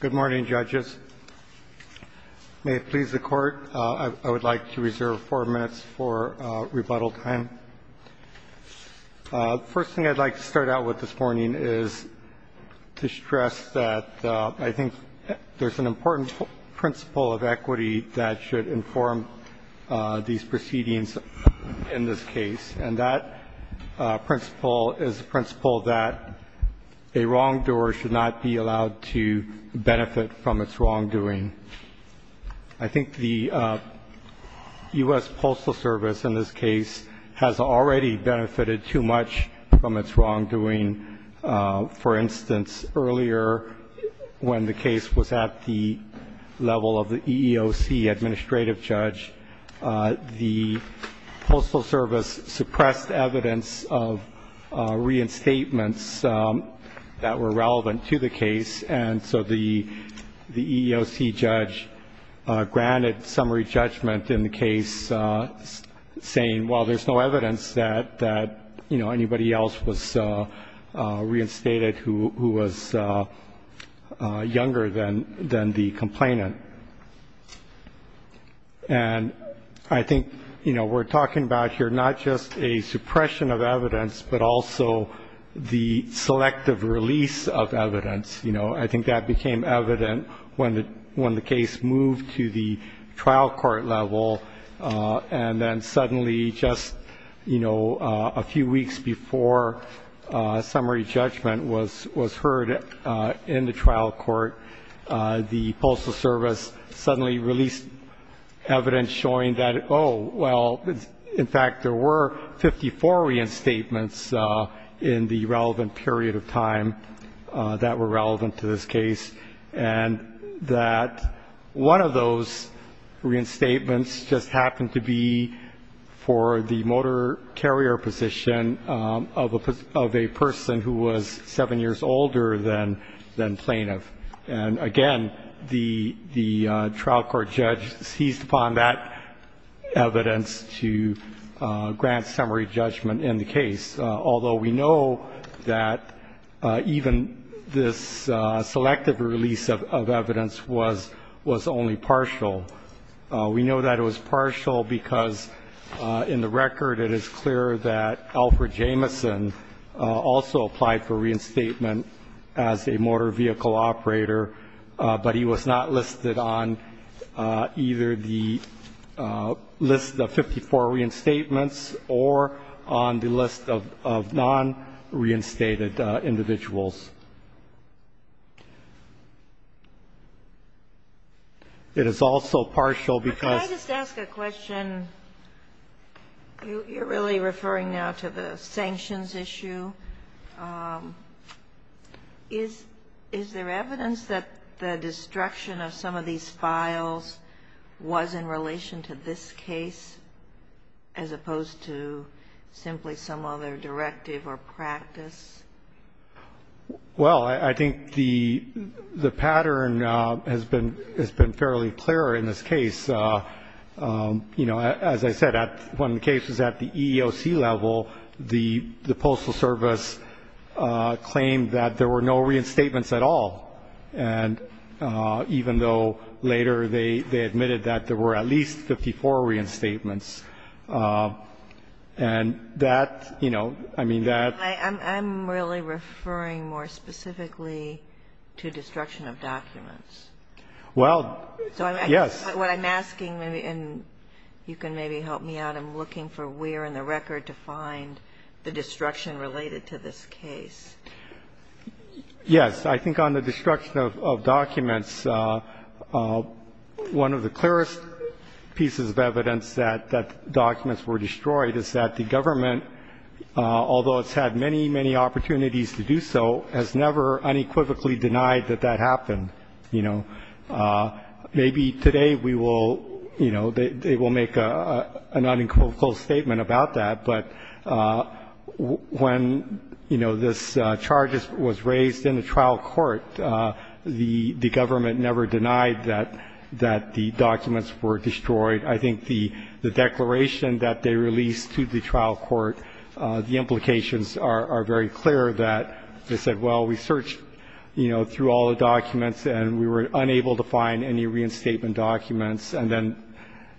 Good morning, judges. May it please the Court, I would like to reserve four minutes for rebuttal time. First thing I'd like to start out with this morning is to stress that I think there's an important principle of equity that should inform these proceedings in this case. And that principle is a principle that a wrongdoer should not be benefit from its wrongdoing. I think the U.S. Postal Service in this case has already benefited too much from its wrongdoing. For instance, earlier when the case was at the level of the EEOC administrative judge, the Postal Service suppressed evidence of reinstatements that were relevant to the case. And so the EEOC judge granted summary judgment in the case saying, well, there's no evidence that anybody else was reinstated who was younger than the complainant. And I think we're talking about here not just a suppression of evidence, but also the selective release of evidence. You know, I think that became evident when the case moved to the trial court level. And then suddenly just, you know, a few weeks before summary judgment was heard in the trial court, the Postal Service suddenly released evidence showing that, oh, well, in fact, there were 54 reinstatements in the relevant period of time that were relevant to this case. And that one of those reinstatements just happened to be for the motor carrier position of a person who was seven years older than plaintiff. And again, the trial court judge seized upon that evidence to grant summary judgment in the case. Although we know that even this selective release of evidence was only partial. We know that it was partial because in the record it is clear that Alfred Jameson also applied for reinstatement as a motor vehicle operator, but he was not listed on either the list of 54 reinstatements or on the list of non-reinstated individuals. It is also partial because you're really referring now to the sanctions issue. Is there evidence that the destruction of some of these files was in relation to this case as opposed to simply some other directive or practice? Well, I think the pattern has been fairly clear in this case. As I said, one of the cases at the EEOC level, the Postal Service claimed that there were no reinstatements at all, even though later they admitted that there were at least 54 reinstatements. And that, you know, I mean that. I'm really referring more specifically to destruction of documents. Well, yes. What I'm asking, and you can maybe help me out, I'm looking for where in the record to find the destruction related to this case. Yes. I think on the destruction of documents, one of the clearest pieces of evidence that documents were destroyed is that the government, although it's had many, many opportunities to do so, has never unequivocally denied that that happened. You know, maybe today we will, you know, they will make an unequivocal statement about that, but when, you know, this charge was raised in the trial court, the government never denied that the documents were destroyed. I think the declaration that they released to the trial court, the implications are very clear that they said, well, we searched, you know, through all the documents and we were unable to find any reinstatement documents. And then,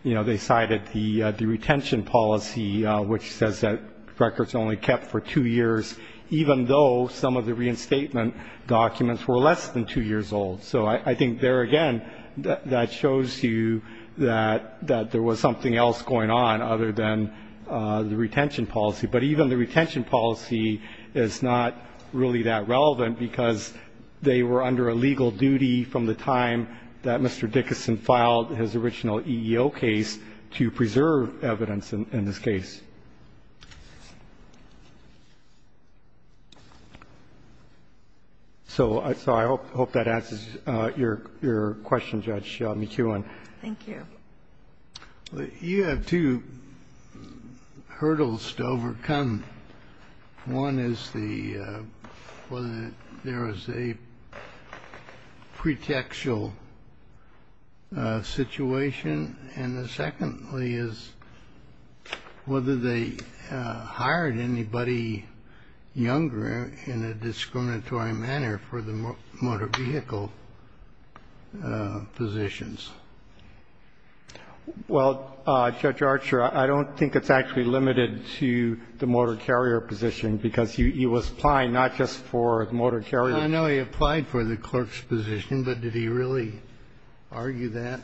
you know, they cited the retention policy, which says that records are only kept for two years, even though some of the reinstatement documents were less than two years old. So I think there again, that shows you that there was something else going on other than the retention policy. But even the retention policy is not really that relevant, because they were under a legal duty from the time that Mr. Dickinson filed his original EEO case to preserve evidence in this case. So I hope that answers your question, Judge McEwen. Thank you. You have two hurdles to overcome. One is whether there is a pretextual situation. And the secondly is whether they hired anybody younger in a discriminatory manner for the motor vehicle positions. Well, Judge Archer, I don't think it's actually limited to the motor carrier position, because he was applying not just for the motor carrier. I know he applied for the clerk's position, but did he really argue that?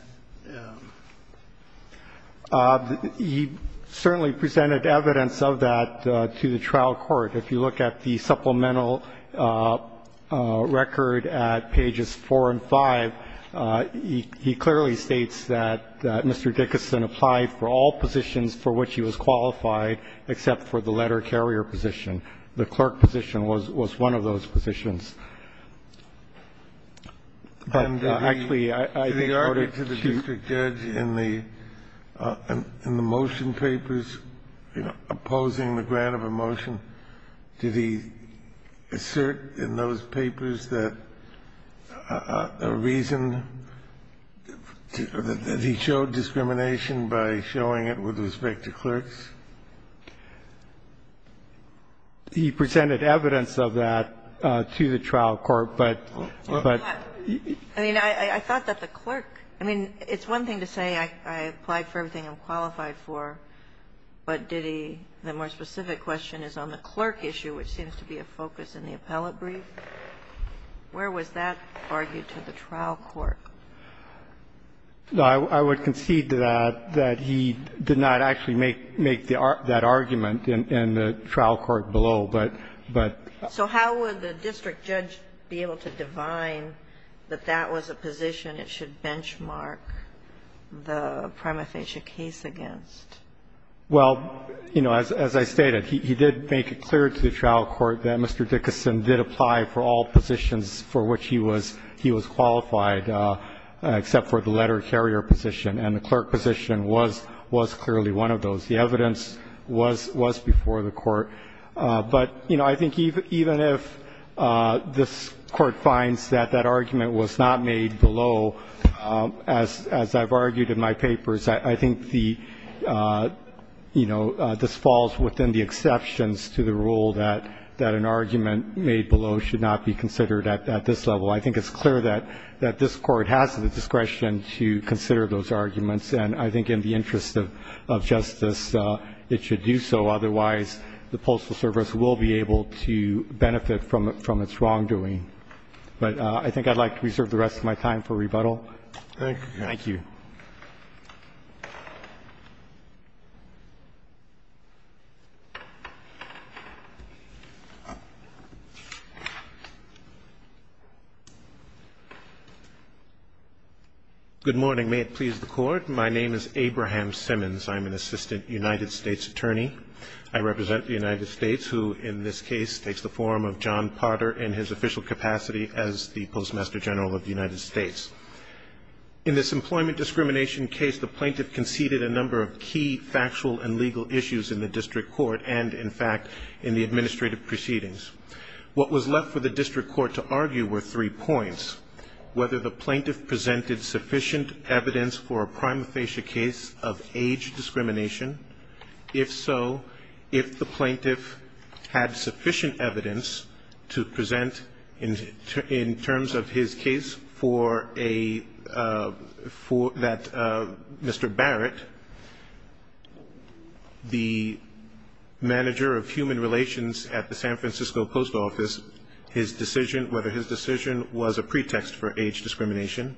He certainly presented evidence of that to the trial court. If you look at the supplemental record at pages 4 and 5, he clearly states that Mr. Dickinson applied for all positions for which he was qualified except for the letter carrier position. The clerk position was one of those positions. But actually, I think in order to choose the judge in the motion papers, you know, opposing the grant of a motion, did he assert in those papers that a reason that he was qualified for the letter carrier position was a reason that he was qualified for the letter carrier position? Did he show discrimination by showing it with respect to clerks? He presented evidence of that to the trial court, but he didn't argue that. I concede to that, that he did not actually make that argument in the trial court below, but. So how would the district judge be able to divine that that was a position it should benchmark the prima facie case against? Well, you know, as I stated, he did make it clear to the trial court that Mr. Dickinson did apply for all positions for which he was qualified except for the letter carrier position. And the clerk position was clearly one of those. The evidence was before the court. But, you know, I think even if this court finds that that argument was not made below, as I've argued in my papers, I think the, you know, this falls within the exceptions to the rule that an argument made below should not be considered at this level. I think it's clear that this Court has the discretion to consider those arguments. And I think in the interest of justice, it should do so. Otherwise, the Postal Service will be able to benefit from its wrongdoing. But I think I'd like to reserve the rest of my time for rebuttal. Thank you. Thank you. Good morning. May it please the Court. My name is Abraham Simmons. I'm an assistant United States attorney. I represent the United States, who in this case takes the form of John Potter in his official capacity as the Postmaster General of the United States. In this employment discrimination case, the plaintiff conceded a number of key factual and legal issues in the district court and, in fact, in the administrative proceedings. What was left for the district court to argue were three points, whether the plaintiff presented sufficient evidence for a prima facie case of age discrimination. If so, if the plaintiff had sufficient evidence to present in terms of his case for a, for, that Mr. Barrett, the manager of human relations at the San Francisco Post Office, his decision, whether his decision was a pretext for age discrimination.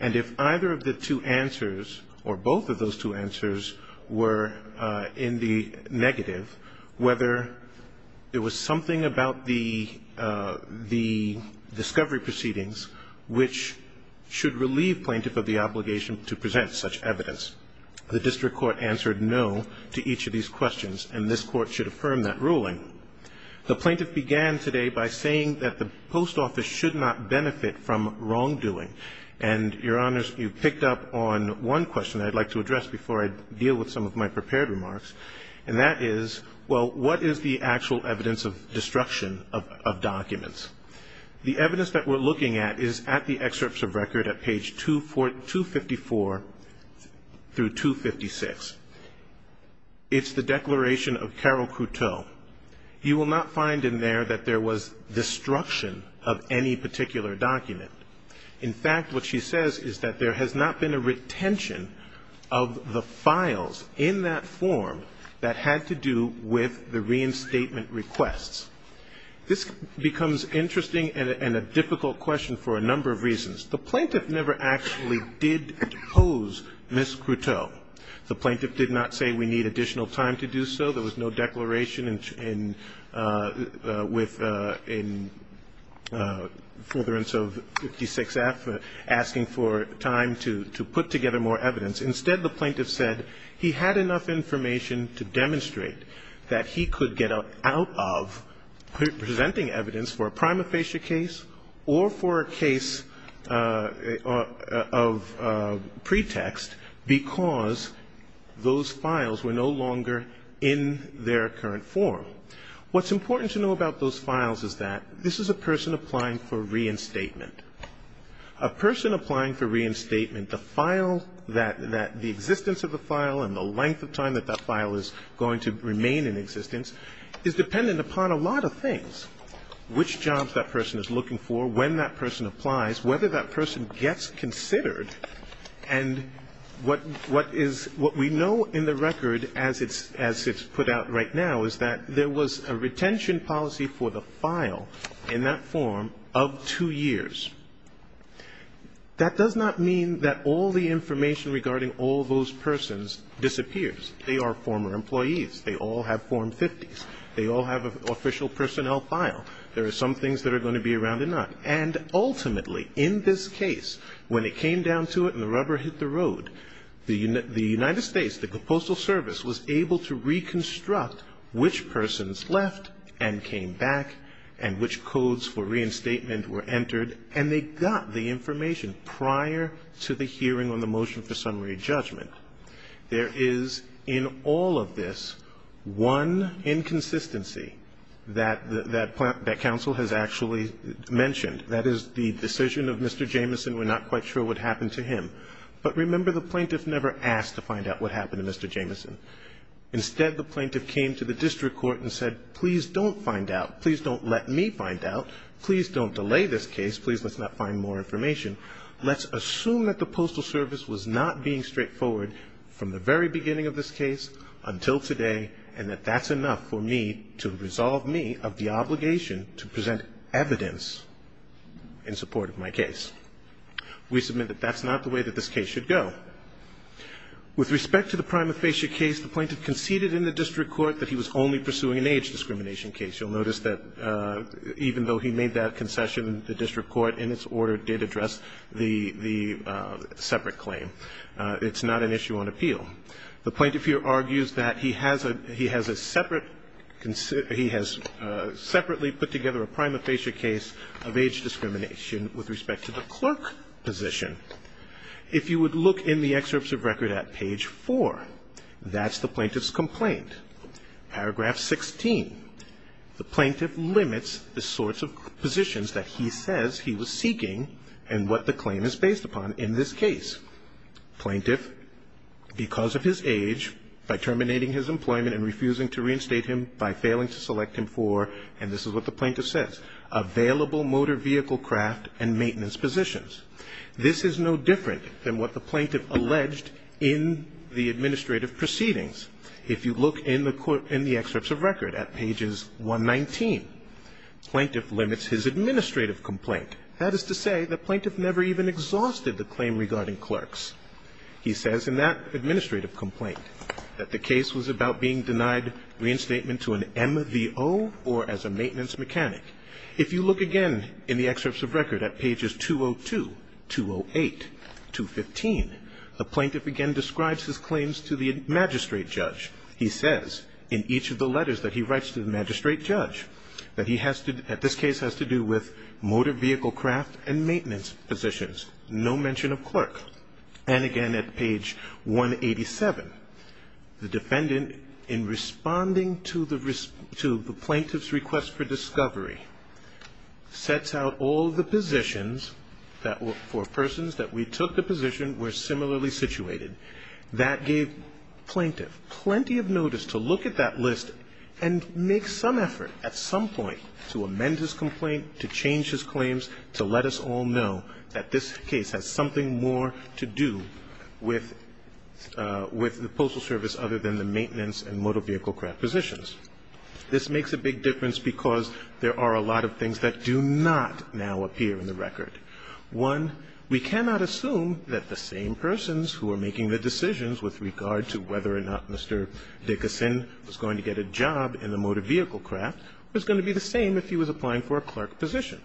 And if either of the two answers, or both of those two answers, were in the negative, whether there was something about the, the discovery proceedings, which was a pretext, should relieve plaintiff of the obligation to present such evidence. The district court answered no to each of these questions, and this court should affirm that ruling. The plaintiff began today by saying that the post office should not benefit from wrongdoing. And, Your Honors, you picked up on one question I'd like to address before I deal with some of my prepared remarks, and that is, well, what is the actual evidence of destruction of, of documents? The evidence that we're looking at is at the excerpts of record at page 254 through 256. It's the declaration of Carol Cruteau. You will not find in there that there was destruction of any particular document. In fact, what she says is that there has not been a retention of the files in that form that had to do with the reinstatement requests. This becomes interesting and a difficult question for a number of reasons. The plaintiff never actually did pose Ms. Cruteau. The plaintiff did not say we need additional time to do so. There was no declaration in, with, in furtherance of 56F, asking for time to, to put together more evidence. Instead, the plaintiff said he had enough information to demonstrate that he could get out of presenting evidence for a prima facie case or for a case of pretext because those files were no longer in their current form. What's important to know about those files is that this is a person applying for reinstatement. A person applying for reinstatement, the file that, that the existence of the file and the length of time that that file is going to remain in existence is dependent upon a lot of things, which jobs that person is looking for, when that person applies, whether that person gets considered, and what, what is, what we know in the record as it's, as it's put out right now is that there was a retention policy for the file in that form of two years. That does not mean that all the information regarding all those persons disappears. They are former employees. They all have Form 50s. They all have an official personnel file. There are some things that are going to be around or not. And ultimately, in this case, when it came down to it and the rubber hit the road, the United States, the Postal Service was able to reconstruct which persons left and came back and which codes for reinstatement were entered, and they got the information prior to the hearing on the motion for summary judgment. There is, in all of this, one inconsistency that, that, that counsel has actually mentioned. That is the decision of Mr. Jameson. We're not quite sure what happened to him. But remember, the plaintiff never asked to find out what happened to Mr. Jameson. Instead, the plaintiff came to the district court and said, please don't find out. Please don't let me find out. Please don't delay this case. Please let's not find more information. Let's assume that the Postal Service was not being straightforward from the very beginning of this case until today, and that that's enough for me to resolve me of the obligation to present evidence in support of my case. We submit that that's not the way that this case should go. With respect to the prima facie case, the plaintiff conceded in the district court that he was only pursuing an age discrimination case. You'll notice that even though he made that concession, the district court in its order did address the separate claim. It's not an issue on appeal. The plaintiff here argues that he has a separate he has separately put together a prima facie case of age discrimination with respect to the clerk position. If you would look in the excerpts of record at page four, that's the plaintiff's complaint. Paragraph 16, the plaintiff limits the sorts of positions that he says he was seeking and what the claim is based upon in this case. Plaintiff, because of his age, by terminating his employment and refusing to reinstate him by failing to select him for, and this is what the plaintiff says, available motor vehicle craft and maintenance positions. This is no different than what the plaintiff alleged in the administrative proceedings. If you look in the excerpts of record at pages 119, plaintiff limits his administrative complaint. That is to say the plaintiff never even exhausted the claim regarding clerks. He says in that administrative complaint that the case was about being denied reinstatement to an MVO or as a maintenance mechanic. If you look again in the excerpts of record at pages 202, 208, 215, the plaintiff again describes his claims to the magistrate judge. He says in each of the letters that he writes to the magistrate judge that he has to, at this case has to do with motor vehicle craft and maintenance positions, no mention of clerk. And again at page 187, the defendant in responding to the plaintiff's request for discovery sets out all the positions for persons that we took the position were similarly situated. That gave plaintiff plenty of notice to look at that list and make some effort at some point to amend his complaint, to change his claims, to let us all know that this case has something more to do with the postal service other than the maintenance and motor vehicle craft positions. This makes a big difference because there are a lot of things that do not now appear in the record. One, we cannot assume that the same persons who are making the decisions with regard to whether or not Mr. Dickerson was going to get a job in the motor vehicle craft was going to be the same if he was applying for a clerk position.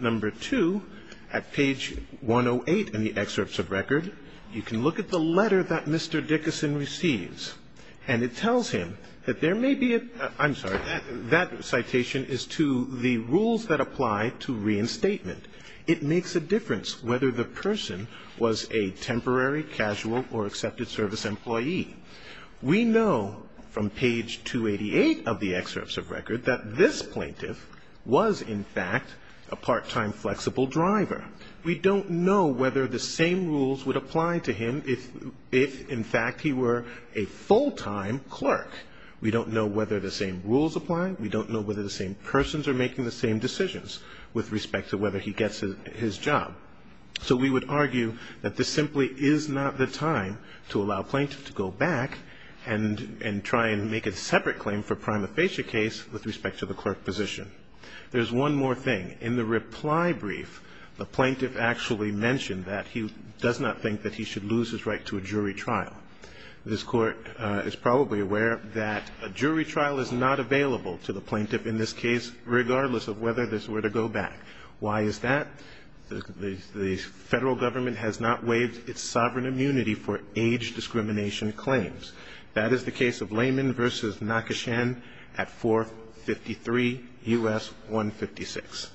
Number two, at page 108 in the excerpts of record, you can look at the letter that Mr. Dickerson receives and it tells him that there may be a, I'm sorry, that citation is to the rules that apply to reinstatement. It makes a difference whether the person was a temporary, casual or accepted service employee. We know from page 288 of the excerpts of record that this plaintiff was in fact a part-time flexible driver. We don't know whether the same rules would apply to him if in fact he were a full-time clerk. We don't know whether the same rules apply. We don't know whether the same persons are making the same decisions with respect to whether he gets his job. So we would argue that this simply is not the time to allow a plaintiff to go back and try and make a separate claim for prima facie case with respect to the clerk position. There's one more thing. In the reply brief, the plaintiff actually mentioned that he does not think that he should lose his right to a jury trial. This court is probably aware that a jury trial is not available to the plaintiff in this case regardless of whether this were to go back. Why is that? The federal government has not waived its sovereign immunity for age discrimination claims. That is the case of Layman v. Nakashen at 453 U.S. 156.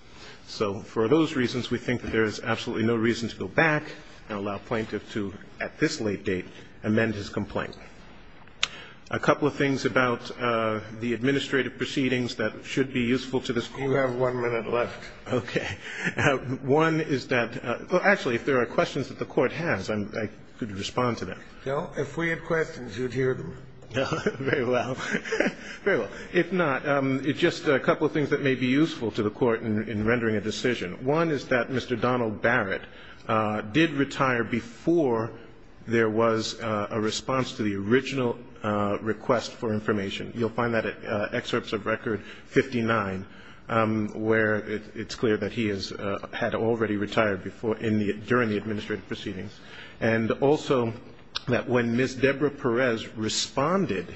So for those reasons, we think that there is absolutely no reason to go back and allow a plaintiff to, at this late date, amend his complaint. A couple of things about the administrative proceedings that should be useful to this court. You have one minute left. Okay. One is that actually if there are questions that the court has, I could respond to them. Well, if we had questions, you'd hear them. Very well. Very well. If not, just a couple of things that may be useful to the court in rendering a decision. One is that Mr. Donald Barrett did retire before there was a response to the original request for information. You'll find that at Excerpts of Record 59, where it's clear that he had already retired during the administrative proceedings. And also that when Ms. Deborah Perez responded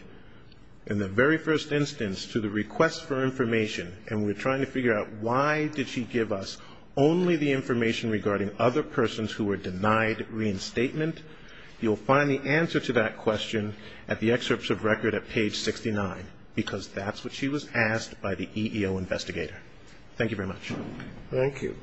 in the very first instance to the request for information, and we're trying to figure out why did she give us only the information regarding other persons who were denied reinstatement, you'll find the answer to that question at the Excerpts of Record at page 69, because that's what she was asked by the EEO investigator. Thank you very much. Thank you.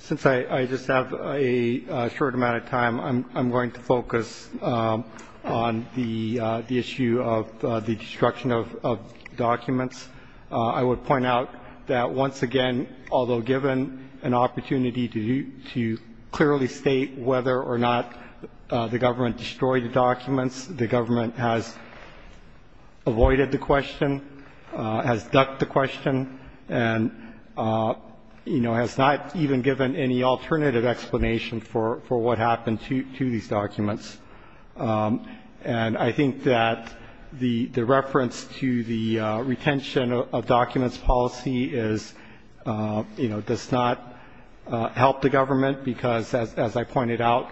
Since I just have a short amount of time, I'm going to focus on the issue of the destruction of documents. I would point out that once again, although given an opportunity to clearly state whether or not the government destroyed the documents, the government has avoided the question. Has ducked the question and, you know, has not even given any alternative explanation for what happened to these documents. And I think that the reference to the retention of documents policy is, you know, does not help the government, because as I pointed out,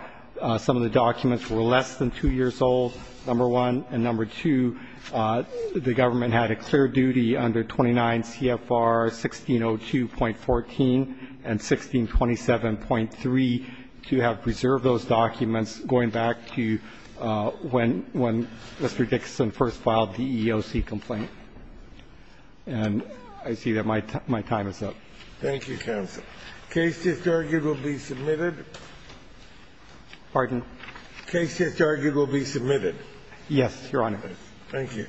some of the documents were less than two years old, number one. And number two, the government had a clear duty under 29 CFR 1602.14 and 1627.3 to have preserved those documents going back to when Mr. Dixon first filed the EEOC complaint. And I see that my time is up. Thank you, counsel. Case just argued will be submitted. Pardon? Case just argued will be submitted. Yes, Your Honor. Thank you.